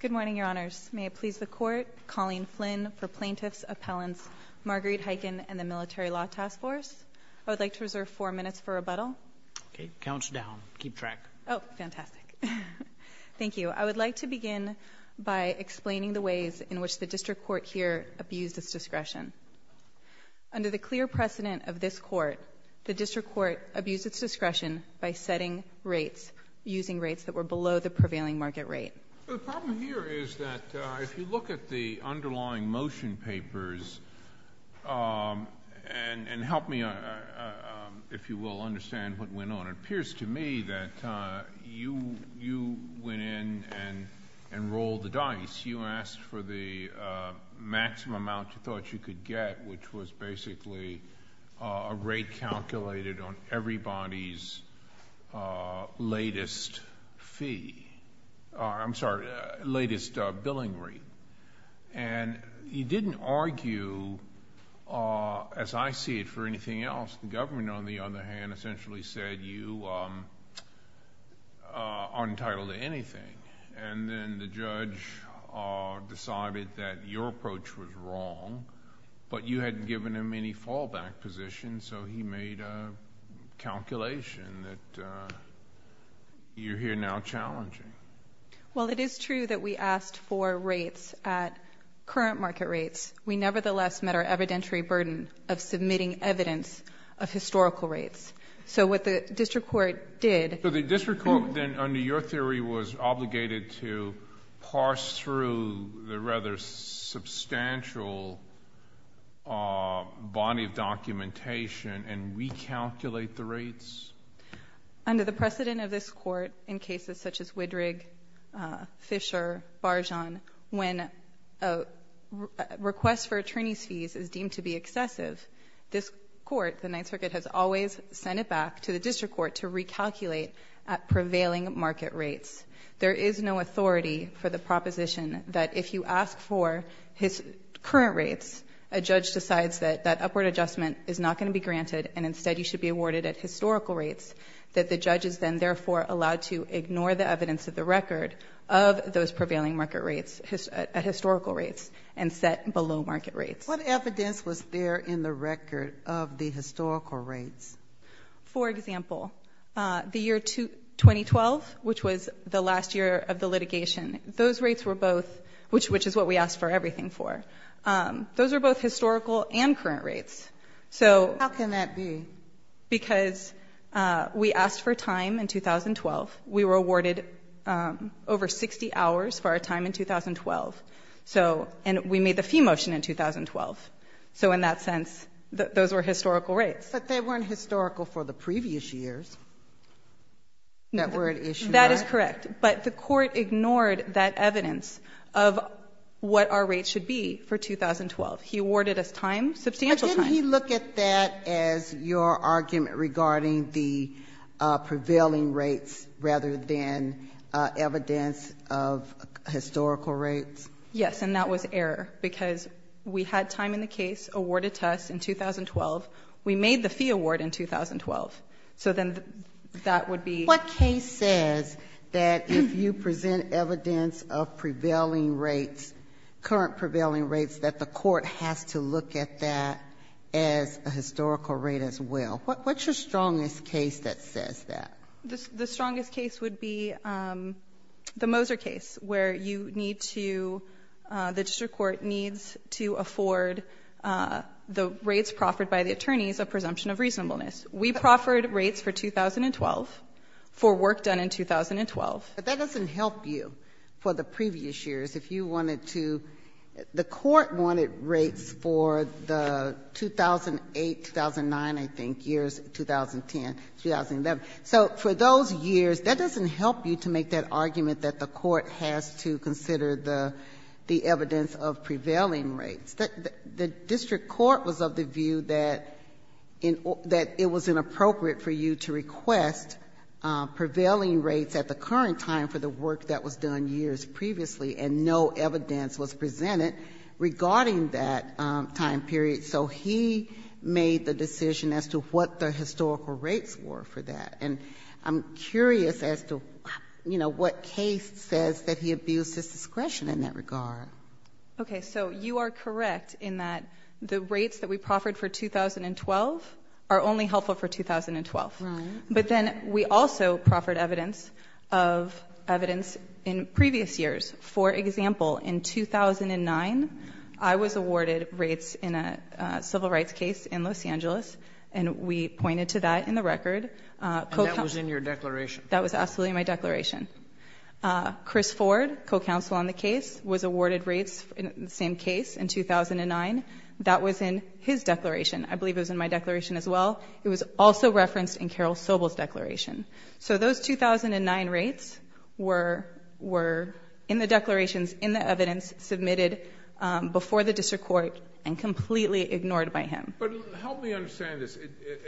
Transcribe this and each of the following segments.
Good morning, Your Honors. May it please the Court, Colleen Flynn for Plaintiff's Appellants, Marguerite Hiken and the Military Law Task Force. I would like to reserve four minutes for rebuttal. Counts down. Keep track. Oh, fantastic. Thank you. I would like to begin by explaining the ways in which the District Court here abused its discretion. Under the clear precedent of this Court, the District Court abused its discretion by setting rates that were below the prevailing market rate. The problem here is that if you look at the underlying motion papers, and help me, if you will, understand what went on, it appears to me that you went in and rolled the dice. You asked for the maximum amount you thought you could get, which was basically a rate calculated on everybody's latest earnings fee. I'm sorry, latest billing rate. You didn't argue, as I see it, for anything else. The government, on the other hand, essentially said you aren't entitled to anything. Then the judge decided that your approach was wrong, but you hadn't given him any fallback position, so he made a calculation that you're here now challenging. Well, it is true that we asked for rates at current market rates. We nevertheless met our evidentiary burden of submitting evidence of historical rates. What the District Court did... The District Court then, under your theory, was obligated to parse through the rather substantial body of documentation and recalculate the rates? Under the precedent of this Court, in cases such as Widrig, Fisher, Barjan, when a request for attorney's fees is deemed to be excessive, this Court, the Ninth Circuit, has always sent it back to the District Court to recalculate at prevailing market rates. There is no authority for the proposition that if you ask for his assessment, it's not going to be granted, and instead you should be awarded at historical rates, that the judge is then therefore allowed to ignore the evidence of the record of those prevailing market rates, historical rates, and set below market rates. What evidence was there in the record of the historical rates? For example, the year 2012, which was the last year of the litigation, those rates were both... which is what we asked for... How can that be? Because we asked for time in 2012. We were awarded over 60 hours for our time in 2012, and we made the fee motion in 2012. So in that sense, those were historical rates. But they weren't historical for the previous years that were at issue. That is correct. But the Court ignored that evidence of what our rates should be for 2012. He awarded us time, substantial time. Why didn't he look at that as your argument regarding the prevailing rates rather than evidence of historical rates? Yes. And that was error, because we had time in the case, awarded to us in 2012. We made the fee award in 2012. So then that would be... What case says that if you present evidence of prevailing rates, current prevailing rates, that the Court has to look at that as a historical rate as well? What's your strongest case that says that? The strongest case would be the Moser case, where you need to... the district court needs to afford the rates proffered by the attorneys a presumption of reasonableness. We proffered rates for 2012 for work done in 2012. But that doesn't help you for the previous years. If you wanted to... the Court wanted rates for the 2008, 2009, I think, years 2010, 2011. So for those years, that doesn't help you to make that argument that the Court has to consider the evidence of prevailing rates. The district court was of the view that it was inappropriate for you to request prevailing rates at the current time for the work that was done years previously, and no evidence was presented regarding that time period. So he made the decision as to what the historical rates were for that. And I'm curious as to, you know, what case says that he abused his discretion in that regard. Okay. So you are correct in that the rates that we proffered for 2012 are only helpful for 2012. But then we also proffered evidence of... evidence in previous years. For example, in 2009, I was awarded rates in a civil rights case in Los Angeles, and we pointed to that in the record. And that was in your declaration? That was absolutely in my declaration. Chris Ford, co-counsel on the case, was awarded rates in the same case in 2009. That was in his declaration. I believe it was in my declaration as well. It was also referenced in Carol Sobel's declaration. So those 2009 rates were in the declarations, in the evidence, submitted before the district court, and completely ignored by him. But help me understand this.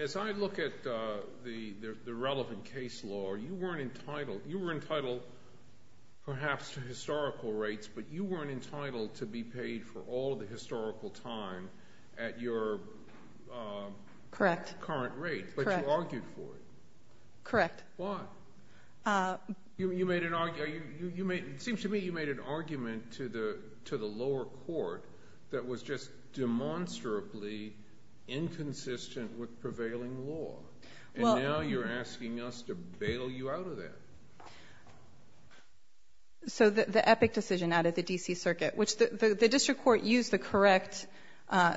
As I look at the relevant case law, you weren't entitled perhaps to historical rates, but you weren't entitled to be paid for all the historical time at your current rate. Correct. But you argued for it. Correct. Why? It seems to me you made an argument to the lower court that was just demonstrably inconsistent with prevailing law. And now you're asking us to bail you out of that. So the EPIC decision out of the D.C. Circuit, which the district court used the correct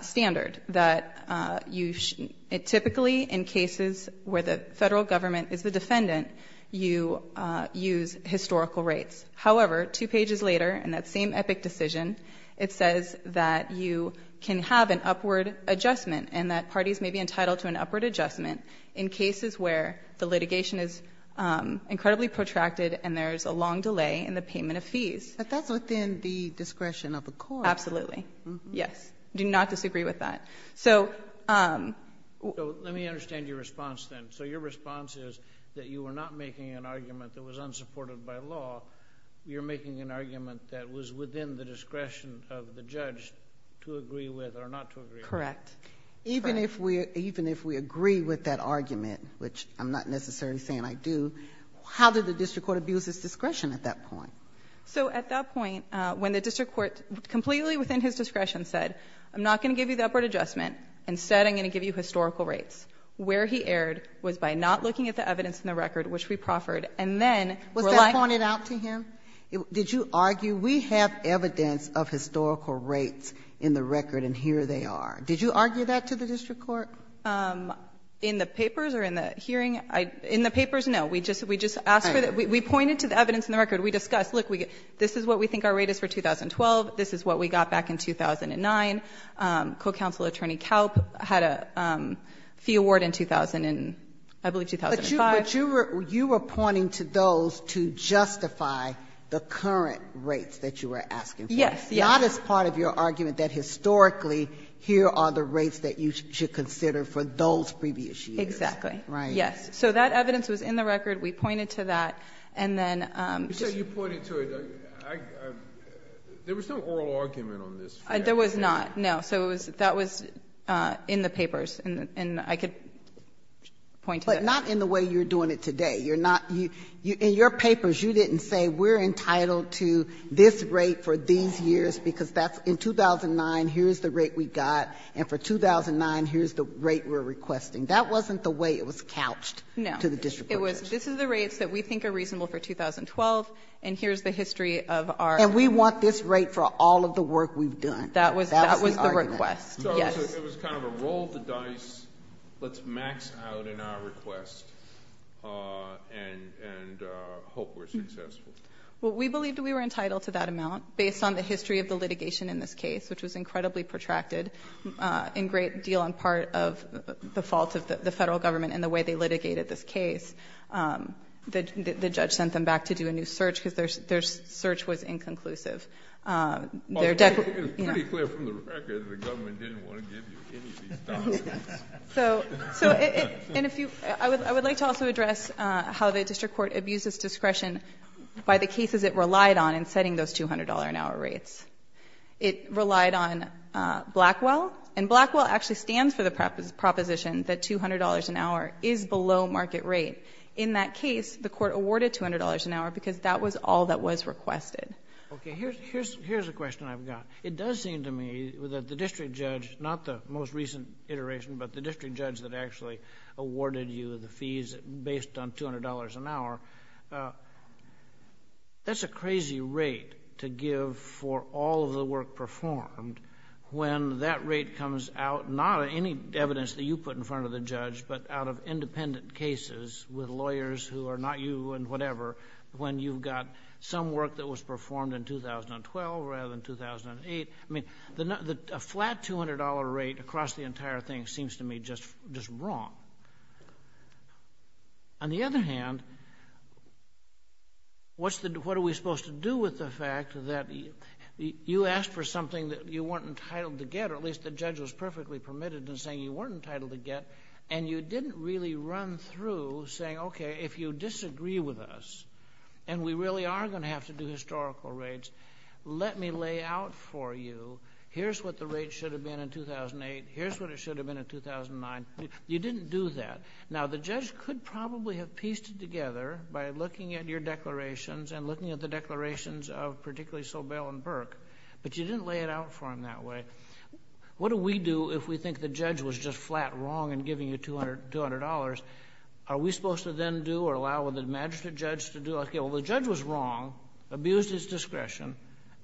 standard, that typically in cases where the federal government is the defendant, you use historical rates. However, two pages later, in that same EPIC decision, it says that you can have an upward adjustment, and that parties may be entitled to an upward adjustment in cases where the litigation is incredibly protracted and there's a long delay in the payment of fees. But that's within the discretion of the court. Absolutely. Yes. Do not disagree with that. So let me understand your response then. So your response is that you were not making an argument that was unsupported by law. You're making an argument that was within the discretion of the judge to agree with or not to agree with. Correct. Even if we agree with that argument, which I'm not necessarily saying I do, how did the district court abuse its discretion at that point? So at that point, when the district court, completely within his discretion, said, I'm not going to give you the upward adjustment. Instead, I'm going to give you historical rates. Where he erred was by not looking at the evidence in the record, which we proffered, and then relying on the evidence. Was that pointed out to him? Did you argue, we have evidence of historical rates in the record. Did you argue that to the district court? In the papers or in the hearing? In the papers, no. We just asked for the, we pointed to the evidence in the record. We discussed, look, this is what we think our rate is for 2012. This is what we got back in 2009. Co-counsel, Attorney Kalb, had a fee award in 2000 and I believe 2005. You were pointing to those to justify the current rates that you were asking for. Yes. Yes. But that is part of your argument, that historically, here are the rates that you should consider for those previous years. Exactly. Right. Yes. So that evidence was in the record. We pointed to that. And then just You said you pointed to it. There was no oral argument on this. There was not, no. So it was, that was in the papers. And I could point to that. But not in the way you're doing it today. You're not, in your papers, you didn't say, we're entitled to this rate for these years because that's, in 2009, here's the rate we got. And for 2009, here's the rate we're requesting. That wasn't the way it was couched to the district. No. It was, this is the rates that we think are reasonable for 2012 and here's the history of our And we want this rate for all of the work we've done. That was the request. That was the argument. Yes. So it was kind of a roll the dice, let's max out in our request and hope we're successful. We believed we were entitled to that amount based on the history of the litigation in this case, which was incredibly protracted in great deal on part of the fault of the federal government and the way they litigated this case. The judge sent them back to do a new search because their search was inconclusive. It's pretty clear from the record the government didn't want to give you any of these documents. So I would like to also address how the district court abused its discretion by the cases it relied on in setting those $200 an hour rates. It relied on Blackwell and Blackwell actually stands for the proposition that $200 an hour is below market rate. In that case, the court awarded $200 an hour because that was all that was requested. Okay. Here's a question I've got. It does seem to me that the district judge, not the most recent iteration, but the district judge that actually awarded you the fees based on $200 an hour, that's a crazy rate to give for all of the work performed when that rate comes out, not any evidence that you put in front of the judge, but out of independent cases with lawyers who are not you and whatever, when you've got some work that was performed in 2012 rather than 2008. I mean, a flat $200 rate across the entire thing seems to me just wrong. On the other hand, what are we supposed to do with the fact that you asked for something that you weren't entitled to get, or at least the judge was perfectly permitted in saying you weren't entitled to get, and you didn't really run through saying, okay, if you disagree with us, and we really are going to have to do historical rates, let me lay out for you, here's what the rate should have been in 2008, here's what it should have been in 2009. You didn't do that. Now, the judge could probably have pieced it together by looking at your declarations and looking at the declarations of particularly Sobel and Burke, but you didn't lay it out for them that way. What do we do if we think the judge was just flat wrong in giving you $200? Are we supposed to then do or allow the magistrate judge to do, okay, well, the judge was wrong, abused his discretion,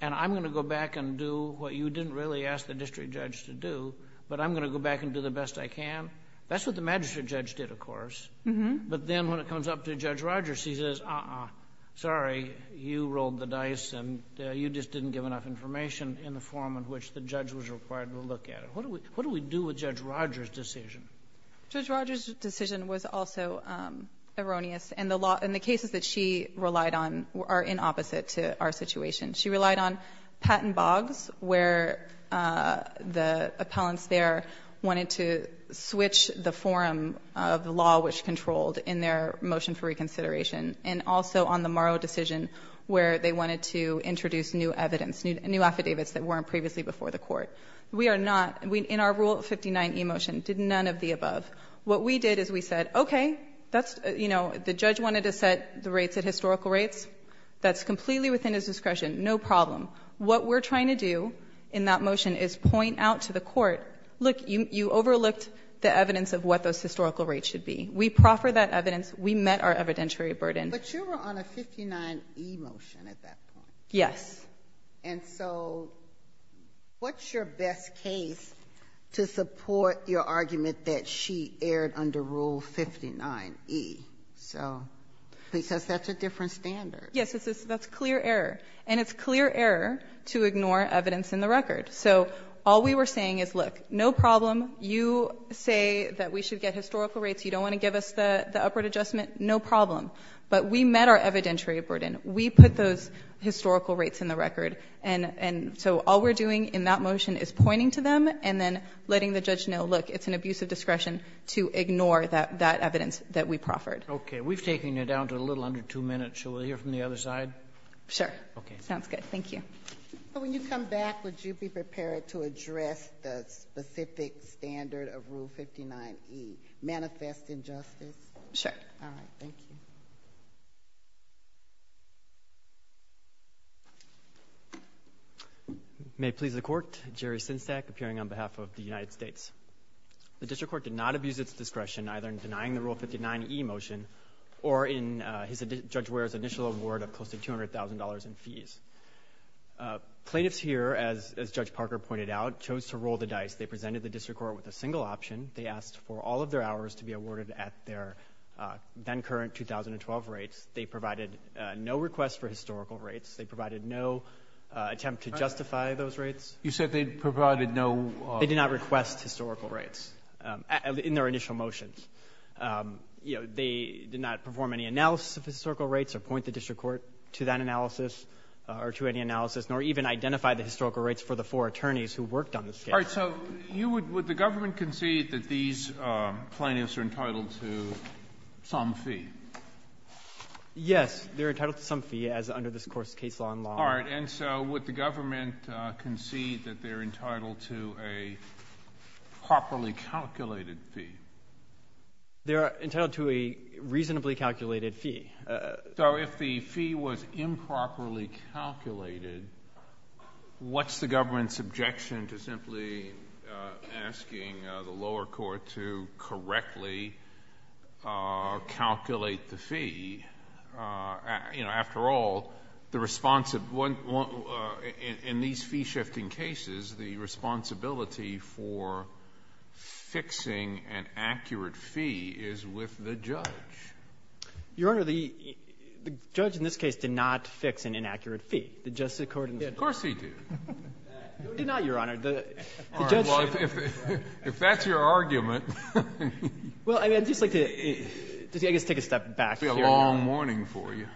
and I'm going to go back and do what you didn't really ask the district judge to do, but I'm going to go back and do the best I can? That's what the magistrate judge did, of course, but then when it comes up to Judge Rogers, he says, uh-uh, sorry, you rolled the dice, and you just didn't give enough information in the form in which the judge was required to look at it. What do we do with Judge Rogers' decision? Judge Rogers' decision was also erroneous, and the cases that she relied on are in opposite to our situation. She relied on Patton Boggs, where the appellants there wanted to switch the form of the law which controlled in their motion for reconsideration, and also on the Morrow decision, where they wanted to introduce new evidence, new affidavits that weren't previously before the court. We are not, in our Rule 59e motion, did none of the above. What we did is we said, okay, that's, you know, the judge wanted to set the rates at historical rates, that's completely within his discretion, no problem. What we're trying to do in that motion is point out to the court, look, you overlooked the evidence of what those historical rates should be. We proffered that evidence, we met our evidentiary burden. But you were on a 59e motion at that point. Yes. And so what's your best case to support your argument that she erred under Rule 59e? So, because that's a different standard. Yes, that's clear error. And it's clear error to ignore evidence in the record. So all we were saying is, look, no problem, you say that we should get historical rates, you don't want to give us the upward adjustment, no problem. But we met our evidentiary burden. We put those historical rates in the record. And so all we're doing in that motion is pointing to them and then letting the judge know, look, it's an abuse of discretion to ignore that evidence that we proffered. Okay. We've taken you down to a little under two minutes. Shall we hear from the other side? Sure. Okay. Sounds good. Thank you. When you come back, would you be prepared to address the specific standard of Rule 59e, manifest injustice? Sure. All right. Thank you. May it please the Court, Jerry Synstack, appearing on behalf of the United States. The District Court did not abuse its discretion, either in denying the Rule 59e motion or in Judge Ware's initial award of close to $200,000 in fees. Plaintiffs here, as Judge Parker pointed out, chose to roll the dice. They presented the District Court with a single option. They asked for all of their hours to be awarded at their then-current 2012 rates. They provided no request for historical rates. They provided no attempt to justify those rates. You said they provided no — They did not request historical rates in their initial motions. You know, they did not perform any analysis of historical rates or point the District Court to that analysis or to any analysis, nor even identify the historical rates for the four attorneys who worked on this case. All right. So you would — would the government concede that these plaintiffs are entitled to some fee? Yes. They're entitled to some fee, as under this Court's case law and law. All right. And so would the government concede that they're entitled to a properly calculated fee? They're entitled to a reasonably calculated fee. So if the fee was improperly calculated, what's the government's objection to simply asking the lower court to correctly calculate the fee? You know, after all, the — in these fee-shifting cases, the responsibility for fixing an accurate fee is with the judge. Your Honor, the judge in this case did not fix an inaccurate fee. The Justice of the Court — Of course he did. He did not, Your Honor. The judge — All right. Well, if that's your argument — Well, I'd just like to — I guess take a step back here. It's going to be a long morning for you.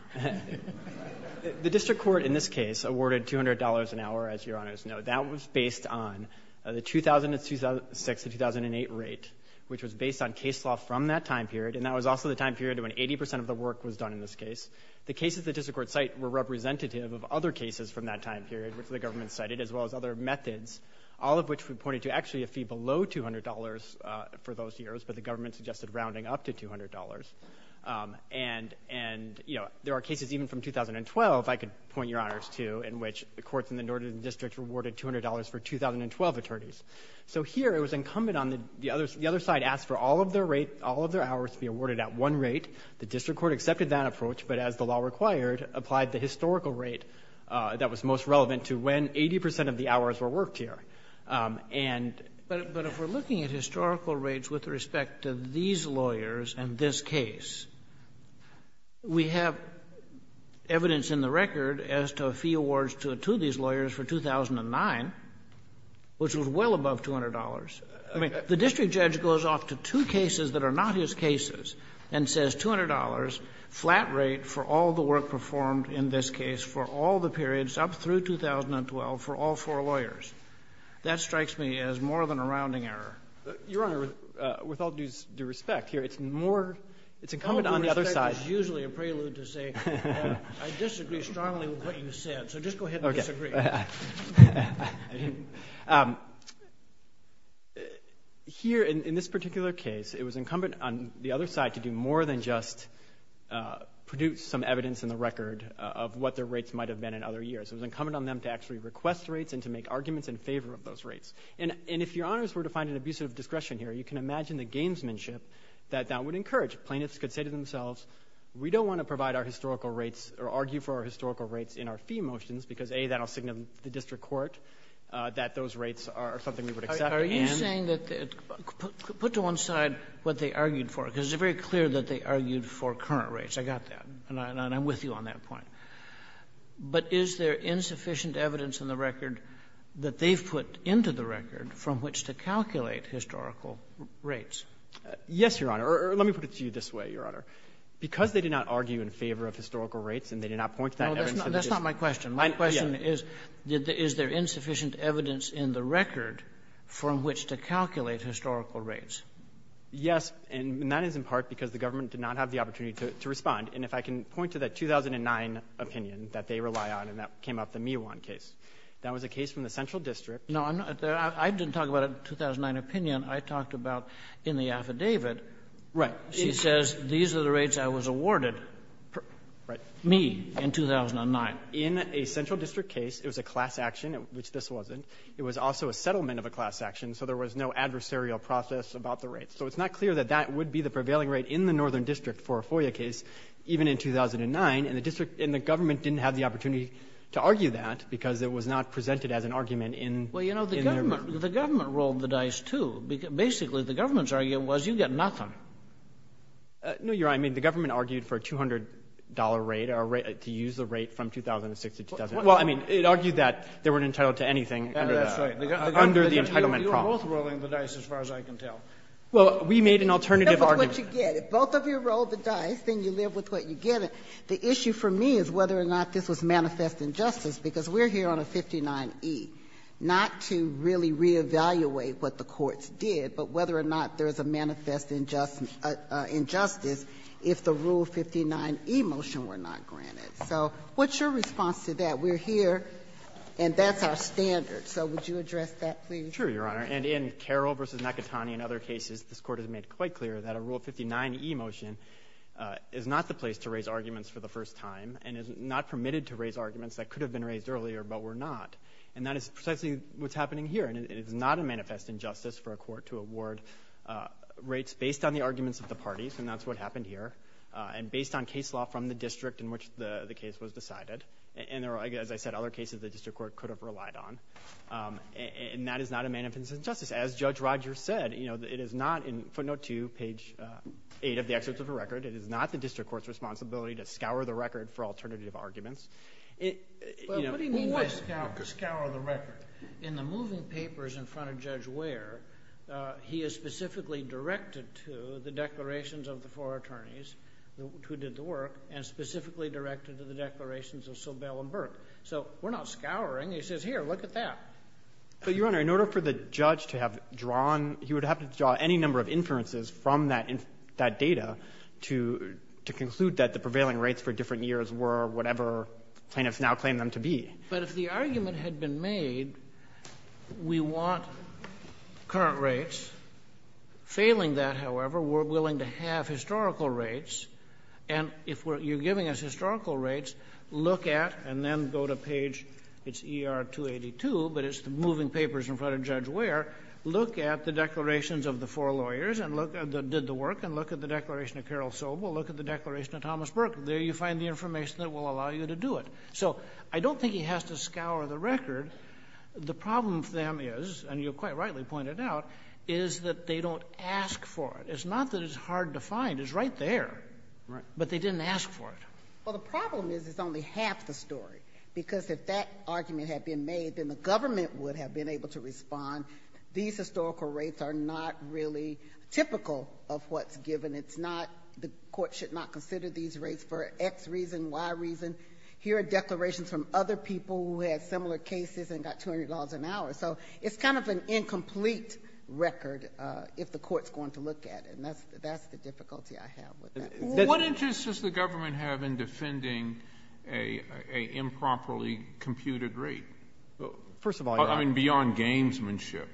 The District Court in this case awarded $200 an hour, as Your Honors know. That was based on the 2000 to 2006 to 2008 rate, which was based on case law from that time period, and that was also the time period when 80 percent of the work was done in this case. The cases the District Court cited were representative of other cases from that time period, which the government cited, as well as other methods, all of which we pointed to actually a fee below $200 for those years, but the government suggested rounding up to $200. And, you know, there are cases even from 2012, if I could point Your Honors to, in which the courts in the Northern District awarded $200 for 2012 attorneys. So here it was incumbent on the — the other side asked for all of their rate, all of their hours to be awarded at one rate. The District Court accepted that approach, but as the law required, applied the historical rate that was most relevant to when 80 percent of the hours were worked here. And — But if we're looking at historical rates with respect to these lawyers and this case, we have evidence in the record as to a fee awards to these lawyers for 2009, which was well above $200. I mean, the district judge goes off to two cases that are not his cases and says $200 flat rate for all the work performed in this case for all the periods up through 2012 for all four lawyers. That strikes me as more than a rounding error. Your Honor, with all due respect here, it's more — it's incumbent on the other side — All due respect is usually a prelude to say I disagree strongly with what you said. So just go ahead and disagree. Here, in this particular case, it was incumbent on the other side to do more than just produce some evidence in the record of what their rates might have been in other years. It was incumbent on them to actually request rates and to make arguments in favor of those rates. And if Your Honors were to find an abusive discretion here, you can imagine the gamesmanship that that would encourage. Plaintiffs could say to themselves, we don't want to provide our historical rates or argue for our historical rates in our fee motions because, A, that will signal to the district court that those rates are something we would accept and — Are you saying that — put to one side what they argued for, because it's very clear that they argued for current rates. I got that. And I'm with you on that point. But is there insufficient evidence in the record that they've put into the record from which to calculate historical rates? Yes, Your Honor. Or let me put it to you this way, Your Honor. Because they did not argue in favor of historical rates and they did not point to that That's not my question. Yeah. My question is, is there insufficient evidence in the record from which to calculate historical rates? Yes. And that is in part because the government did not have the opportunity to respond. And if I can point to that 2009 opinion that they rely on, and that came up, the Miwan case, that was a case from the central district — No, I didn't talk about a 2009 opinion. I talked about in the affidavit — Right. She says, these are the rates I was awarded. Right. Me, in 2009. In a central district case, it was a class action, which this wasn't. It was also a settlement of a class action, so there was no adversarial process about the rates. So it's not clear that that would be the prevailing rate in the northern district for a FOIA case, even in 2009. And the district and the government didn't have the opportunity to argue that because it was not presented as an argument in their — Well, you know, the government rolled the dice, too. Basically, the government's argument was, you get nothing. No, Your Honor. I mean, the government argued for a $200 rate, or to use the rate from 2006 to 2010. Well, I mean, it argued that they weren't entitled to anything under the — That's right. Under the entitlement problem. You're both rolling the dice, as far as I can tell. Well, we made an alternative argument. That's what you get. If both of you roll the dice, then you live with what you get. The issue for me is whether or not this was manifest injustice, because we're here on a 59E, not to really reevaluate what the courts did, but whether or not there is a manifest injustice if the Rule 59E motion were not granted. So what's your response to that? We're here, and that's our standard. So would you address that, please? Sure, Your Honor. And in Carroll v. McIntyre and other cases, this Court has made quite clear that a Rule 59E motion is not the place to raise arguments for the first time and is not permitted to raise arguments that could have been raised earlier but were not. And that is precisely what's happening here. And it is not a manifest injustice for a court to award rates based on the arguments of the parties, and that's what happened here, and based on case law from the district in which the case was decided. And there are, as I said, other cases the district court could have relied on. And that is not a manifest injustice. As Judge Rogers said, you know, it is not — in footnote 2, page 8 of the excerpts of the record — it is not the district court's responsibility to scour the record for alternative arguments. But what do you mean by scour the record? In the moving papers in front of Judge Ware, he is specifically directed to the declarations of the four attorneys who did the work and specifically directed to the declarations of Sobel and Burke. So we're not scouring. He says, here, look at that. But, Your Honor, in order for the judge to have drawn — he would have to draw any number of inferences from that data to conclude that the prevailing rates for different years were whatever plaintiffs now claim them to be. But if the argument had been made, we want current rates, failing that, however, we're willing to have historical rates. And if you're giving us historical rates, look at — and then go to page — it's ER-282, but it's the moving papers in front of Judge Ware — look at the declarations of the four lawyers that did the work, and look at the declaration of Carol Sobel, look at the declaration of Thomas Burke. There you find the information that will allow you to do it. So I don't think he has to scour the record. The problem for them is — and you quite rightly pointed out — is that they don't ask for it. It's not that it's hard to find. It's right there. Right. But they didn't ask for it. Well, the problem is it's only half the story. Because if that argument had been made, then the government would have been able to respond. These historical rates are not really typical of what's given. It's not — the court should not consider these rates for X reason, Y reason. Here are declarations from other people who had similar cases and got $200 an hour. So it's kind of an incomplete record if the court's going to look at it. And that's the difficulty I have with that. What interest does the government have in defending a improperly computed rate? First of all, Your Honor — I mean, beyond gamesmanship.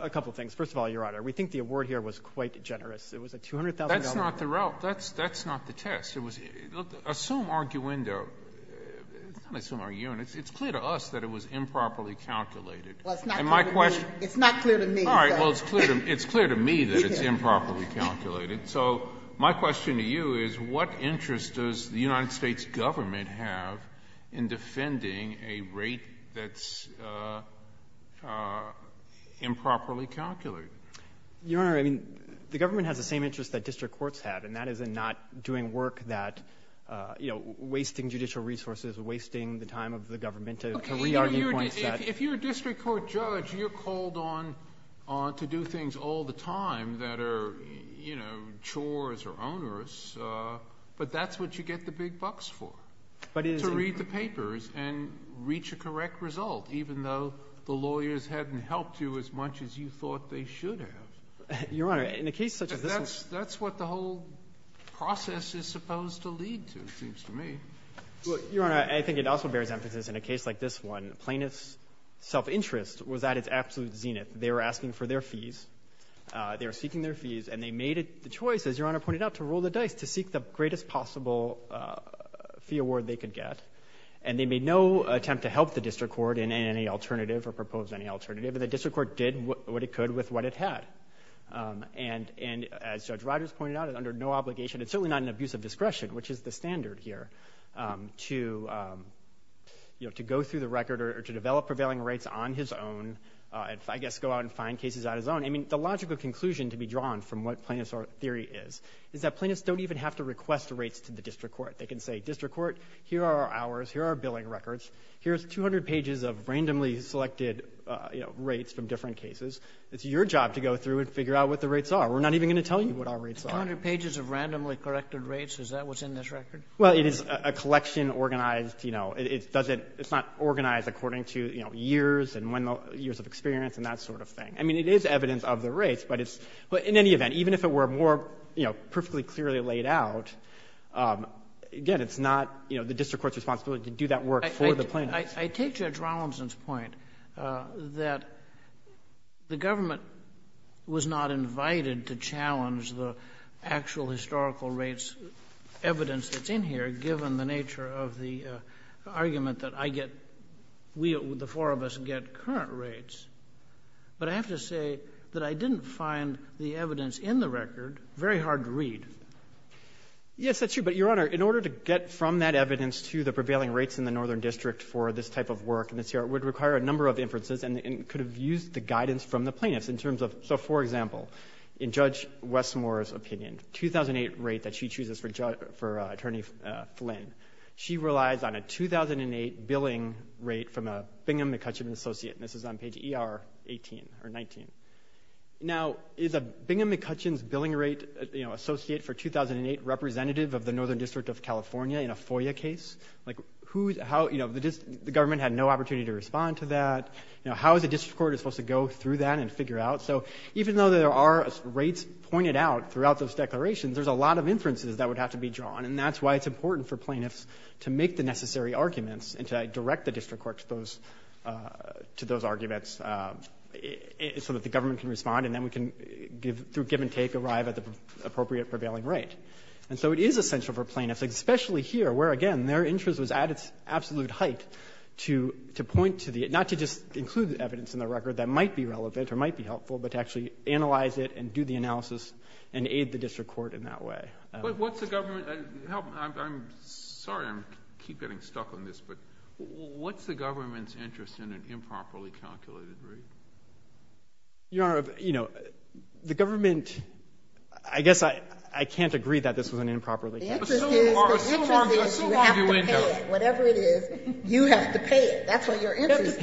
A couple things. First of all, Your Honor, we think the award here was quite generous. It was a $200,000 award. That's not the — that's not the test. It was — look, assume arguendo. It's not assume arguendo. It's clear to us that it was improperly calculated. Well, it's not clear to me. It's not clear to me. All right. Well, it's clear to me that it's improperly calculated. So my question to you is what interest does the United States government have in defending a rate that's improperly calculated? Your Honor, I mean, the government has the same interest that district courts have, and that is in not doing work that — you know, wasting judicial resources, wasting the time of the government to re-argue points that — Okay. If you're a district court judge, you're called on to do things all the time that are, you know, chores or onerous. But that's what you get the big bucks for, to read the papers and reach a correct result, even though the lawyers hadn't helped you as much as you thought they should have. Your Honor, in a case such as this — That's what the whole process is supposed to lead to, it seems to me. Well, Your Honor, I think it also bears emphasis in a case like this one, plaintiff's self-interest was at its absolute zenith. They were asking for their fees. They were seeking their fees, and they made the choice, as Your Honor pointed out, to roll the dice, to seek the greatest possible fee award they could get. And they made no attempt to help the district court in any alternative or propose any alternative. The district court did what it could with what it had. And as Judge Rodgers pointed out, under no obligation, it's certainly not an abuse of discretion, which is the standard here, to go through the record or to develop prevailing rates on his own, I guess go out and find cases on his own. I mean, the logical conclusion to be drawn from what plaintiff's theory is, is that plaintiffs don't even have to request rates to the district court. They can say, district court, here are our hours, here are our billing records, here's 200 pages of randomly selected rates from different cases. It's your job to go through and figure out what the rates are. We're not even going to tell you what our rates are. 200 pages of randomly corrected rates, is that what's in this record? Well, it is a collection organized, you know, it's not organized according to years and years of experience and that sort of thing. I mean, it is evidence of the rates, but in any event, even if it were more, you know, perfectly clearly laid out, again, it's not the district court's responsibility to do that work for the plaintiffs. I take Judge Rollinson's point that the government was not invited to challenge the actual historical rates evidence that's in here, given the nature of the argument that I get, we, the four of us, get current rates. But I have to say that I didn't find the evidence in the record very hard to read. Yes, that's true. But, Your Honor, in order to get from that evidence to the prevailing rates in the Northern District for this type of work, it would require a number of inferences and could have used the guidance from the plaintiffs. So, for example, in Judge Westmore's opinion, 2008 rate that she chooses for Attorney Flynn, she relies on a 2008 billing rate from a Bingham-McCutcheon associate, and this is on page ER 18 or 19. Now, is a Bingham-McCutcheon's billing rate, you know, associate for 2008 representative of the Northern District of California in a FOIA case? Like, who, how, you know, the government had no opportunity to respond to that. You know, how is the district court supposed to go through that and figure out? So, even though there are rates pointed out throughout those declarations, there's a lot of inferences that would have to be drawn, and that's why it's important for plaintiffs to make the necessary arguments and to direct the district court to those arguments so that the government can respond and then we can, through give and take, arrive at the appropriate prevailing rate. And so it is essential for plaintiffs, especially here, where, again, their interest was at its absolute height to point to the, not to just include the evidence in the record that might be relevant or might be helpful, but to actually analyze it and do the analysis and aid the district court in that way. But what's the government, I'm sorry I keep getting stuck on this, but what's the government's interest in an improperly calculated rate? Your Honor, you know, the government, I guess I can't agree that this was an improperly calculated rate. The interest is you have to pay it. Whatever it is, you have to pay it. That's what your interest is. You have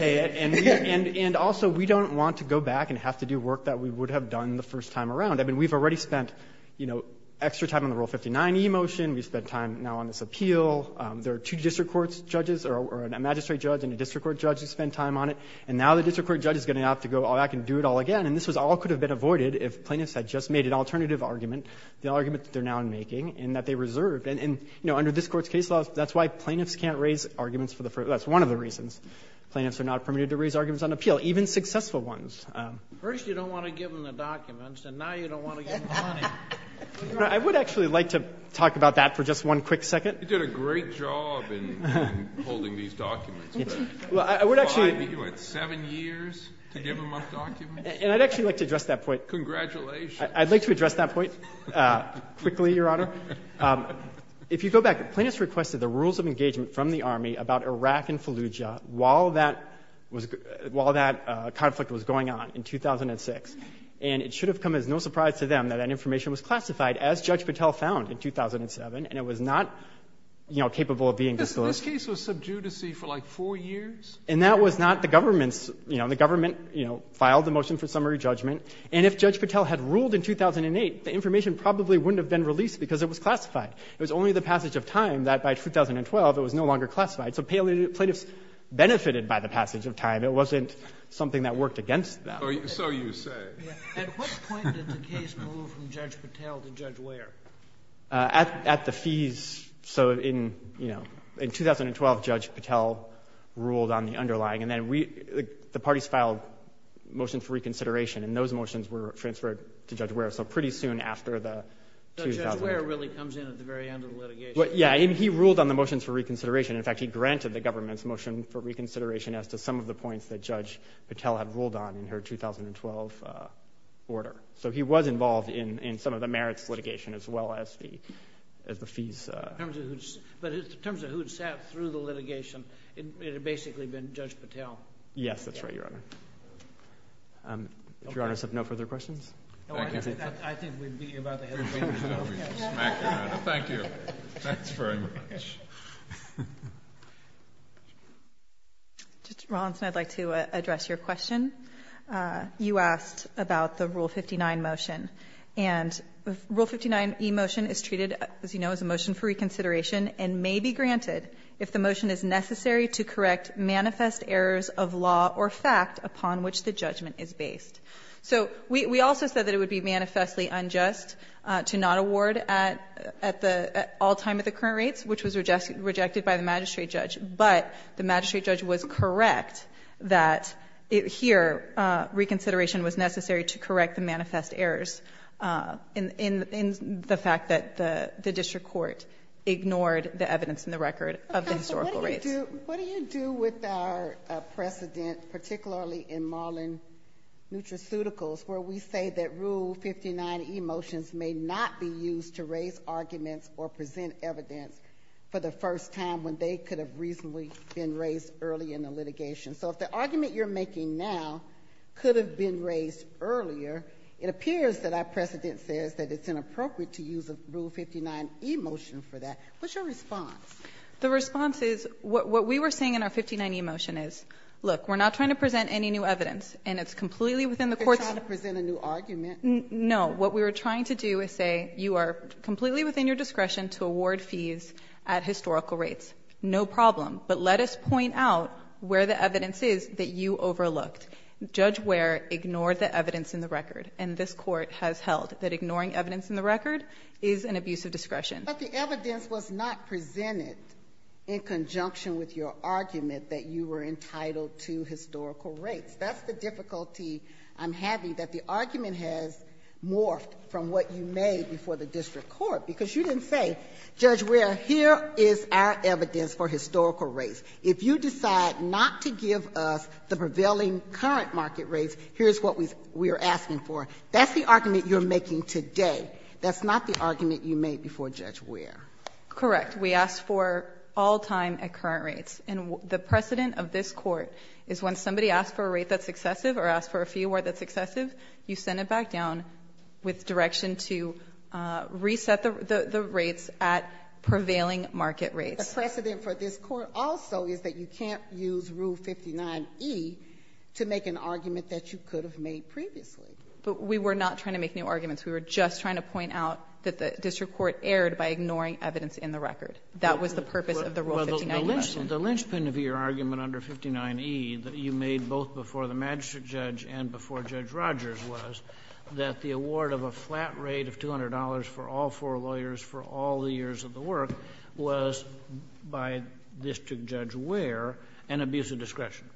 to pay it. And also, we don't want to go back and have to do work that we would have done the first time around. I mean, we've already spent, you know, extra time on the Rule 59e motion. We've spent time now on this appeal. There are two district court judges or a magistrate judge and a district court judge who spend time on it. And now the district court judge is going to have to go back and do it all again. And this all could have been avoided if plaintiffs had just made an alternative argument, the argument that they're now making, and that they reserved. And, you know, under this Court's case law, that's why plaintiffs can't raise arguments for the first time. That's one of the reasons. Plaintiffs are not permitted to raise arguments on appeal, even successful ones. First you don't want to give them the documents, and now you don't want to give them the money. I would actually like to talk about that for just one quick second. You did a great job in holding these documents. Well, I would actually. You had seven years to give them up documents? And I'd actually like to address that point. Congratulations. I'd like to address that point quickly, Your Honor. If you go back, plaintiffs requested the rules of engagement from the Army about Iraq and Fallujah while that conflict was going on in 2006. And it should have come as no surprise to them that that information was classified, as Judge Patel found in 2007, and it was not, you know, capable of being distilled. This case was subdued to see for, like, four years? And that was not the government's, you know. The government, you know, filed the motion for summary judgment. And if Judge Patel had ruled in 2008, the information probably wouldn't have been released because it was classified. It was only the passage of time that by 2012 it was no longer classified. So plaintiffs benefited by the passage of time. It wasn't something that worked against them. So you say. At what point did the case move from Judge Patel to Judge Ware? At the fees. So in, you know, in 2012, Judge Patel ruled on the underlying. And then the parties filed motions for reconsideration, and those motions were transferred to Judge Ware. So pretty soon after the 2000. Judge Ware really comes in at the very end of the litigation. Yeah, and he ruled on the motions for reconsideration. In fact, he granted the government's motion for reconsideration as to some of the points that Judge Patel had ruled on in her 2012 order. So he was involved in some of the merits litigation as well as the fees. But in terms of who had sat through the litigation, it had basically been Judge Patel. Yes, that's right, Your Honor. If Your Honor has no further questions. I think we beat you about the head. Thank you. Thanks very much. Judge Rawlinson, I'd like to address your question. You asked about the Rule 59 motion. And Rule 59E motion is treated, as you know, as a motion for reconsideration and may be granted if the motion is necessary to correct manifest errors of law or fact upon which the judgment is based. So we also said that it would be manifestly unjust to not award at all time at the current rates, which was rejected by the magistrate judge. But the magistrate judge was correct that here reconsideration was necessary to correct the manifest errors in the fact that the district court ignored the evidence in the record of the historical rates. What do you do with our precedent, particularly in Marlin Nutraceuticals, where we say that Rule 59E motions may not be used to raise arguments or present evidence for the first time when they could have reasonably been raised early in the litigation? So if the argument you're making now could have been raised earlier, it appears that our precedent says that it's inappropriate to use a Rule 59E motion for that. What's your response? The response is what we were saying in our 59E motion is, look, we're not trying to present any new evidence, and it's completely within the court's ---- They're trying to present a new argument. No. What we were trying to do is say you are completely within your discretion to award fees at historical rates. No problem. But let us point out where the evidence is that you overlooked. Judge Ware ignored the evidence in the record, and this Court has held that ignoring evidence in the record is an abuse of discretion. But the evidence was not presented in conjunction with your argument that you were entitled to historical rates. That's the difficulty I'm having, that the argument has morphed from what you made before the district court, because you didn't say, Judge Ware, here is our evidence for historical rates. If you decide not to give us the prevailing current market rates, here's what we're asking for. That's the argument you're making today. That's not the argument you made before Judge Ware. Correct. We asked for all time at current rates. And the precedent of this Court is when somebody asks for a rate that's excessive or asks for a fee award that's excessive, you send it back down with direction to reset the rates at prevailing market rates. The precedent for this Court also is that you can't use Rule 59E to make an argument that you could have made previously. But we were not trying to make new arguments. We were just trying to point out that the district court erred by ignoring evidence in the record. That was the purpose of the Rule 59E. Well, the linchpin of your argument under 59E that you made both before the magistrate judge and before Judge Rogers was that the award of a flat rate of $200 for all four lawyers for all the years of the work was, by District Judge Ware, an abuse of discretion.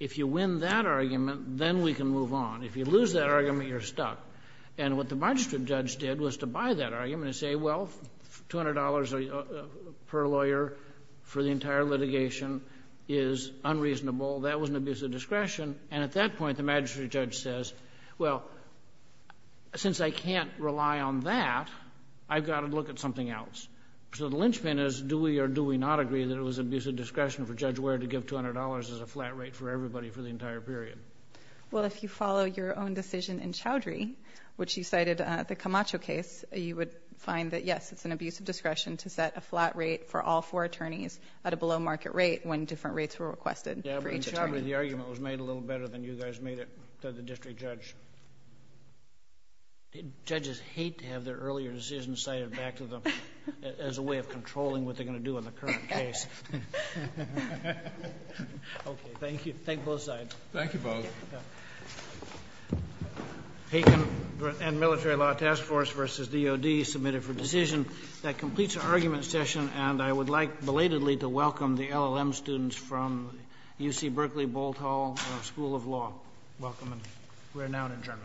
If you win that argument, then we can move on. If you lose that argument, you're stuck. And what the magistrate judge did was to buy that argument and say, well, $200 per lawyer for the entire litigation is unreasonable. That was an abuse of discretion. And at that point, the magistrate judge says, well, since I can't rely on that, I've got to look at something else. So the linchpin is do we or do we not agree that it was abuse of discretion for Judge Ware to give $200 as a flat rate for everybody for the entire period? Well, if you follow your own decision in Chowdhury, which you cited, the Camacho case, you would find that, yes, it's an abuse of discretion to set a flat rate for all four attorneys at a below market rate when different rates were requested for each attorney. Yeah, but in Chowdhury, the argument was made a little better than you guys made it, the District Judge. Judges hate to have their earlier decisions cited back to them as a way of controlling what they're going to do in the current case. Okay, thank you. Thank you, both sides. Thank you, both. Payton and Military Law Task Force versus DOD submitted for decision. That completes our argument session, and I would like belatedly to welcome the LLM students from UC Berkeley Bolt Hall School of Law. Welcome, and we're now adjourned.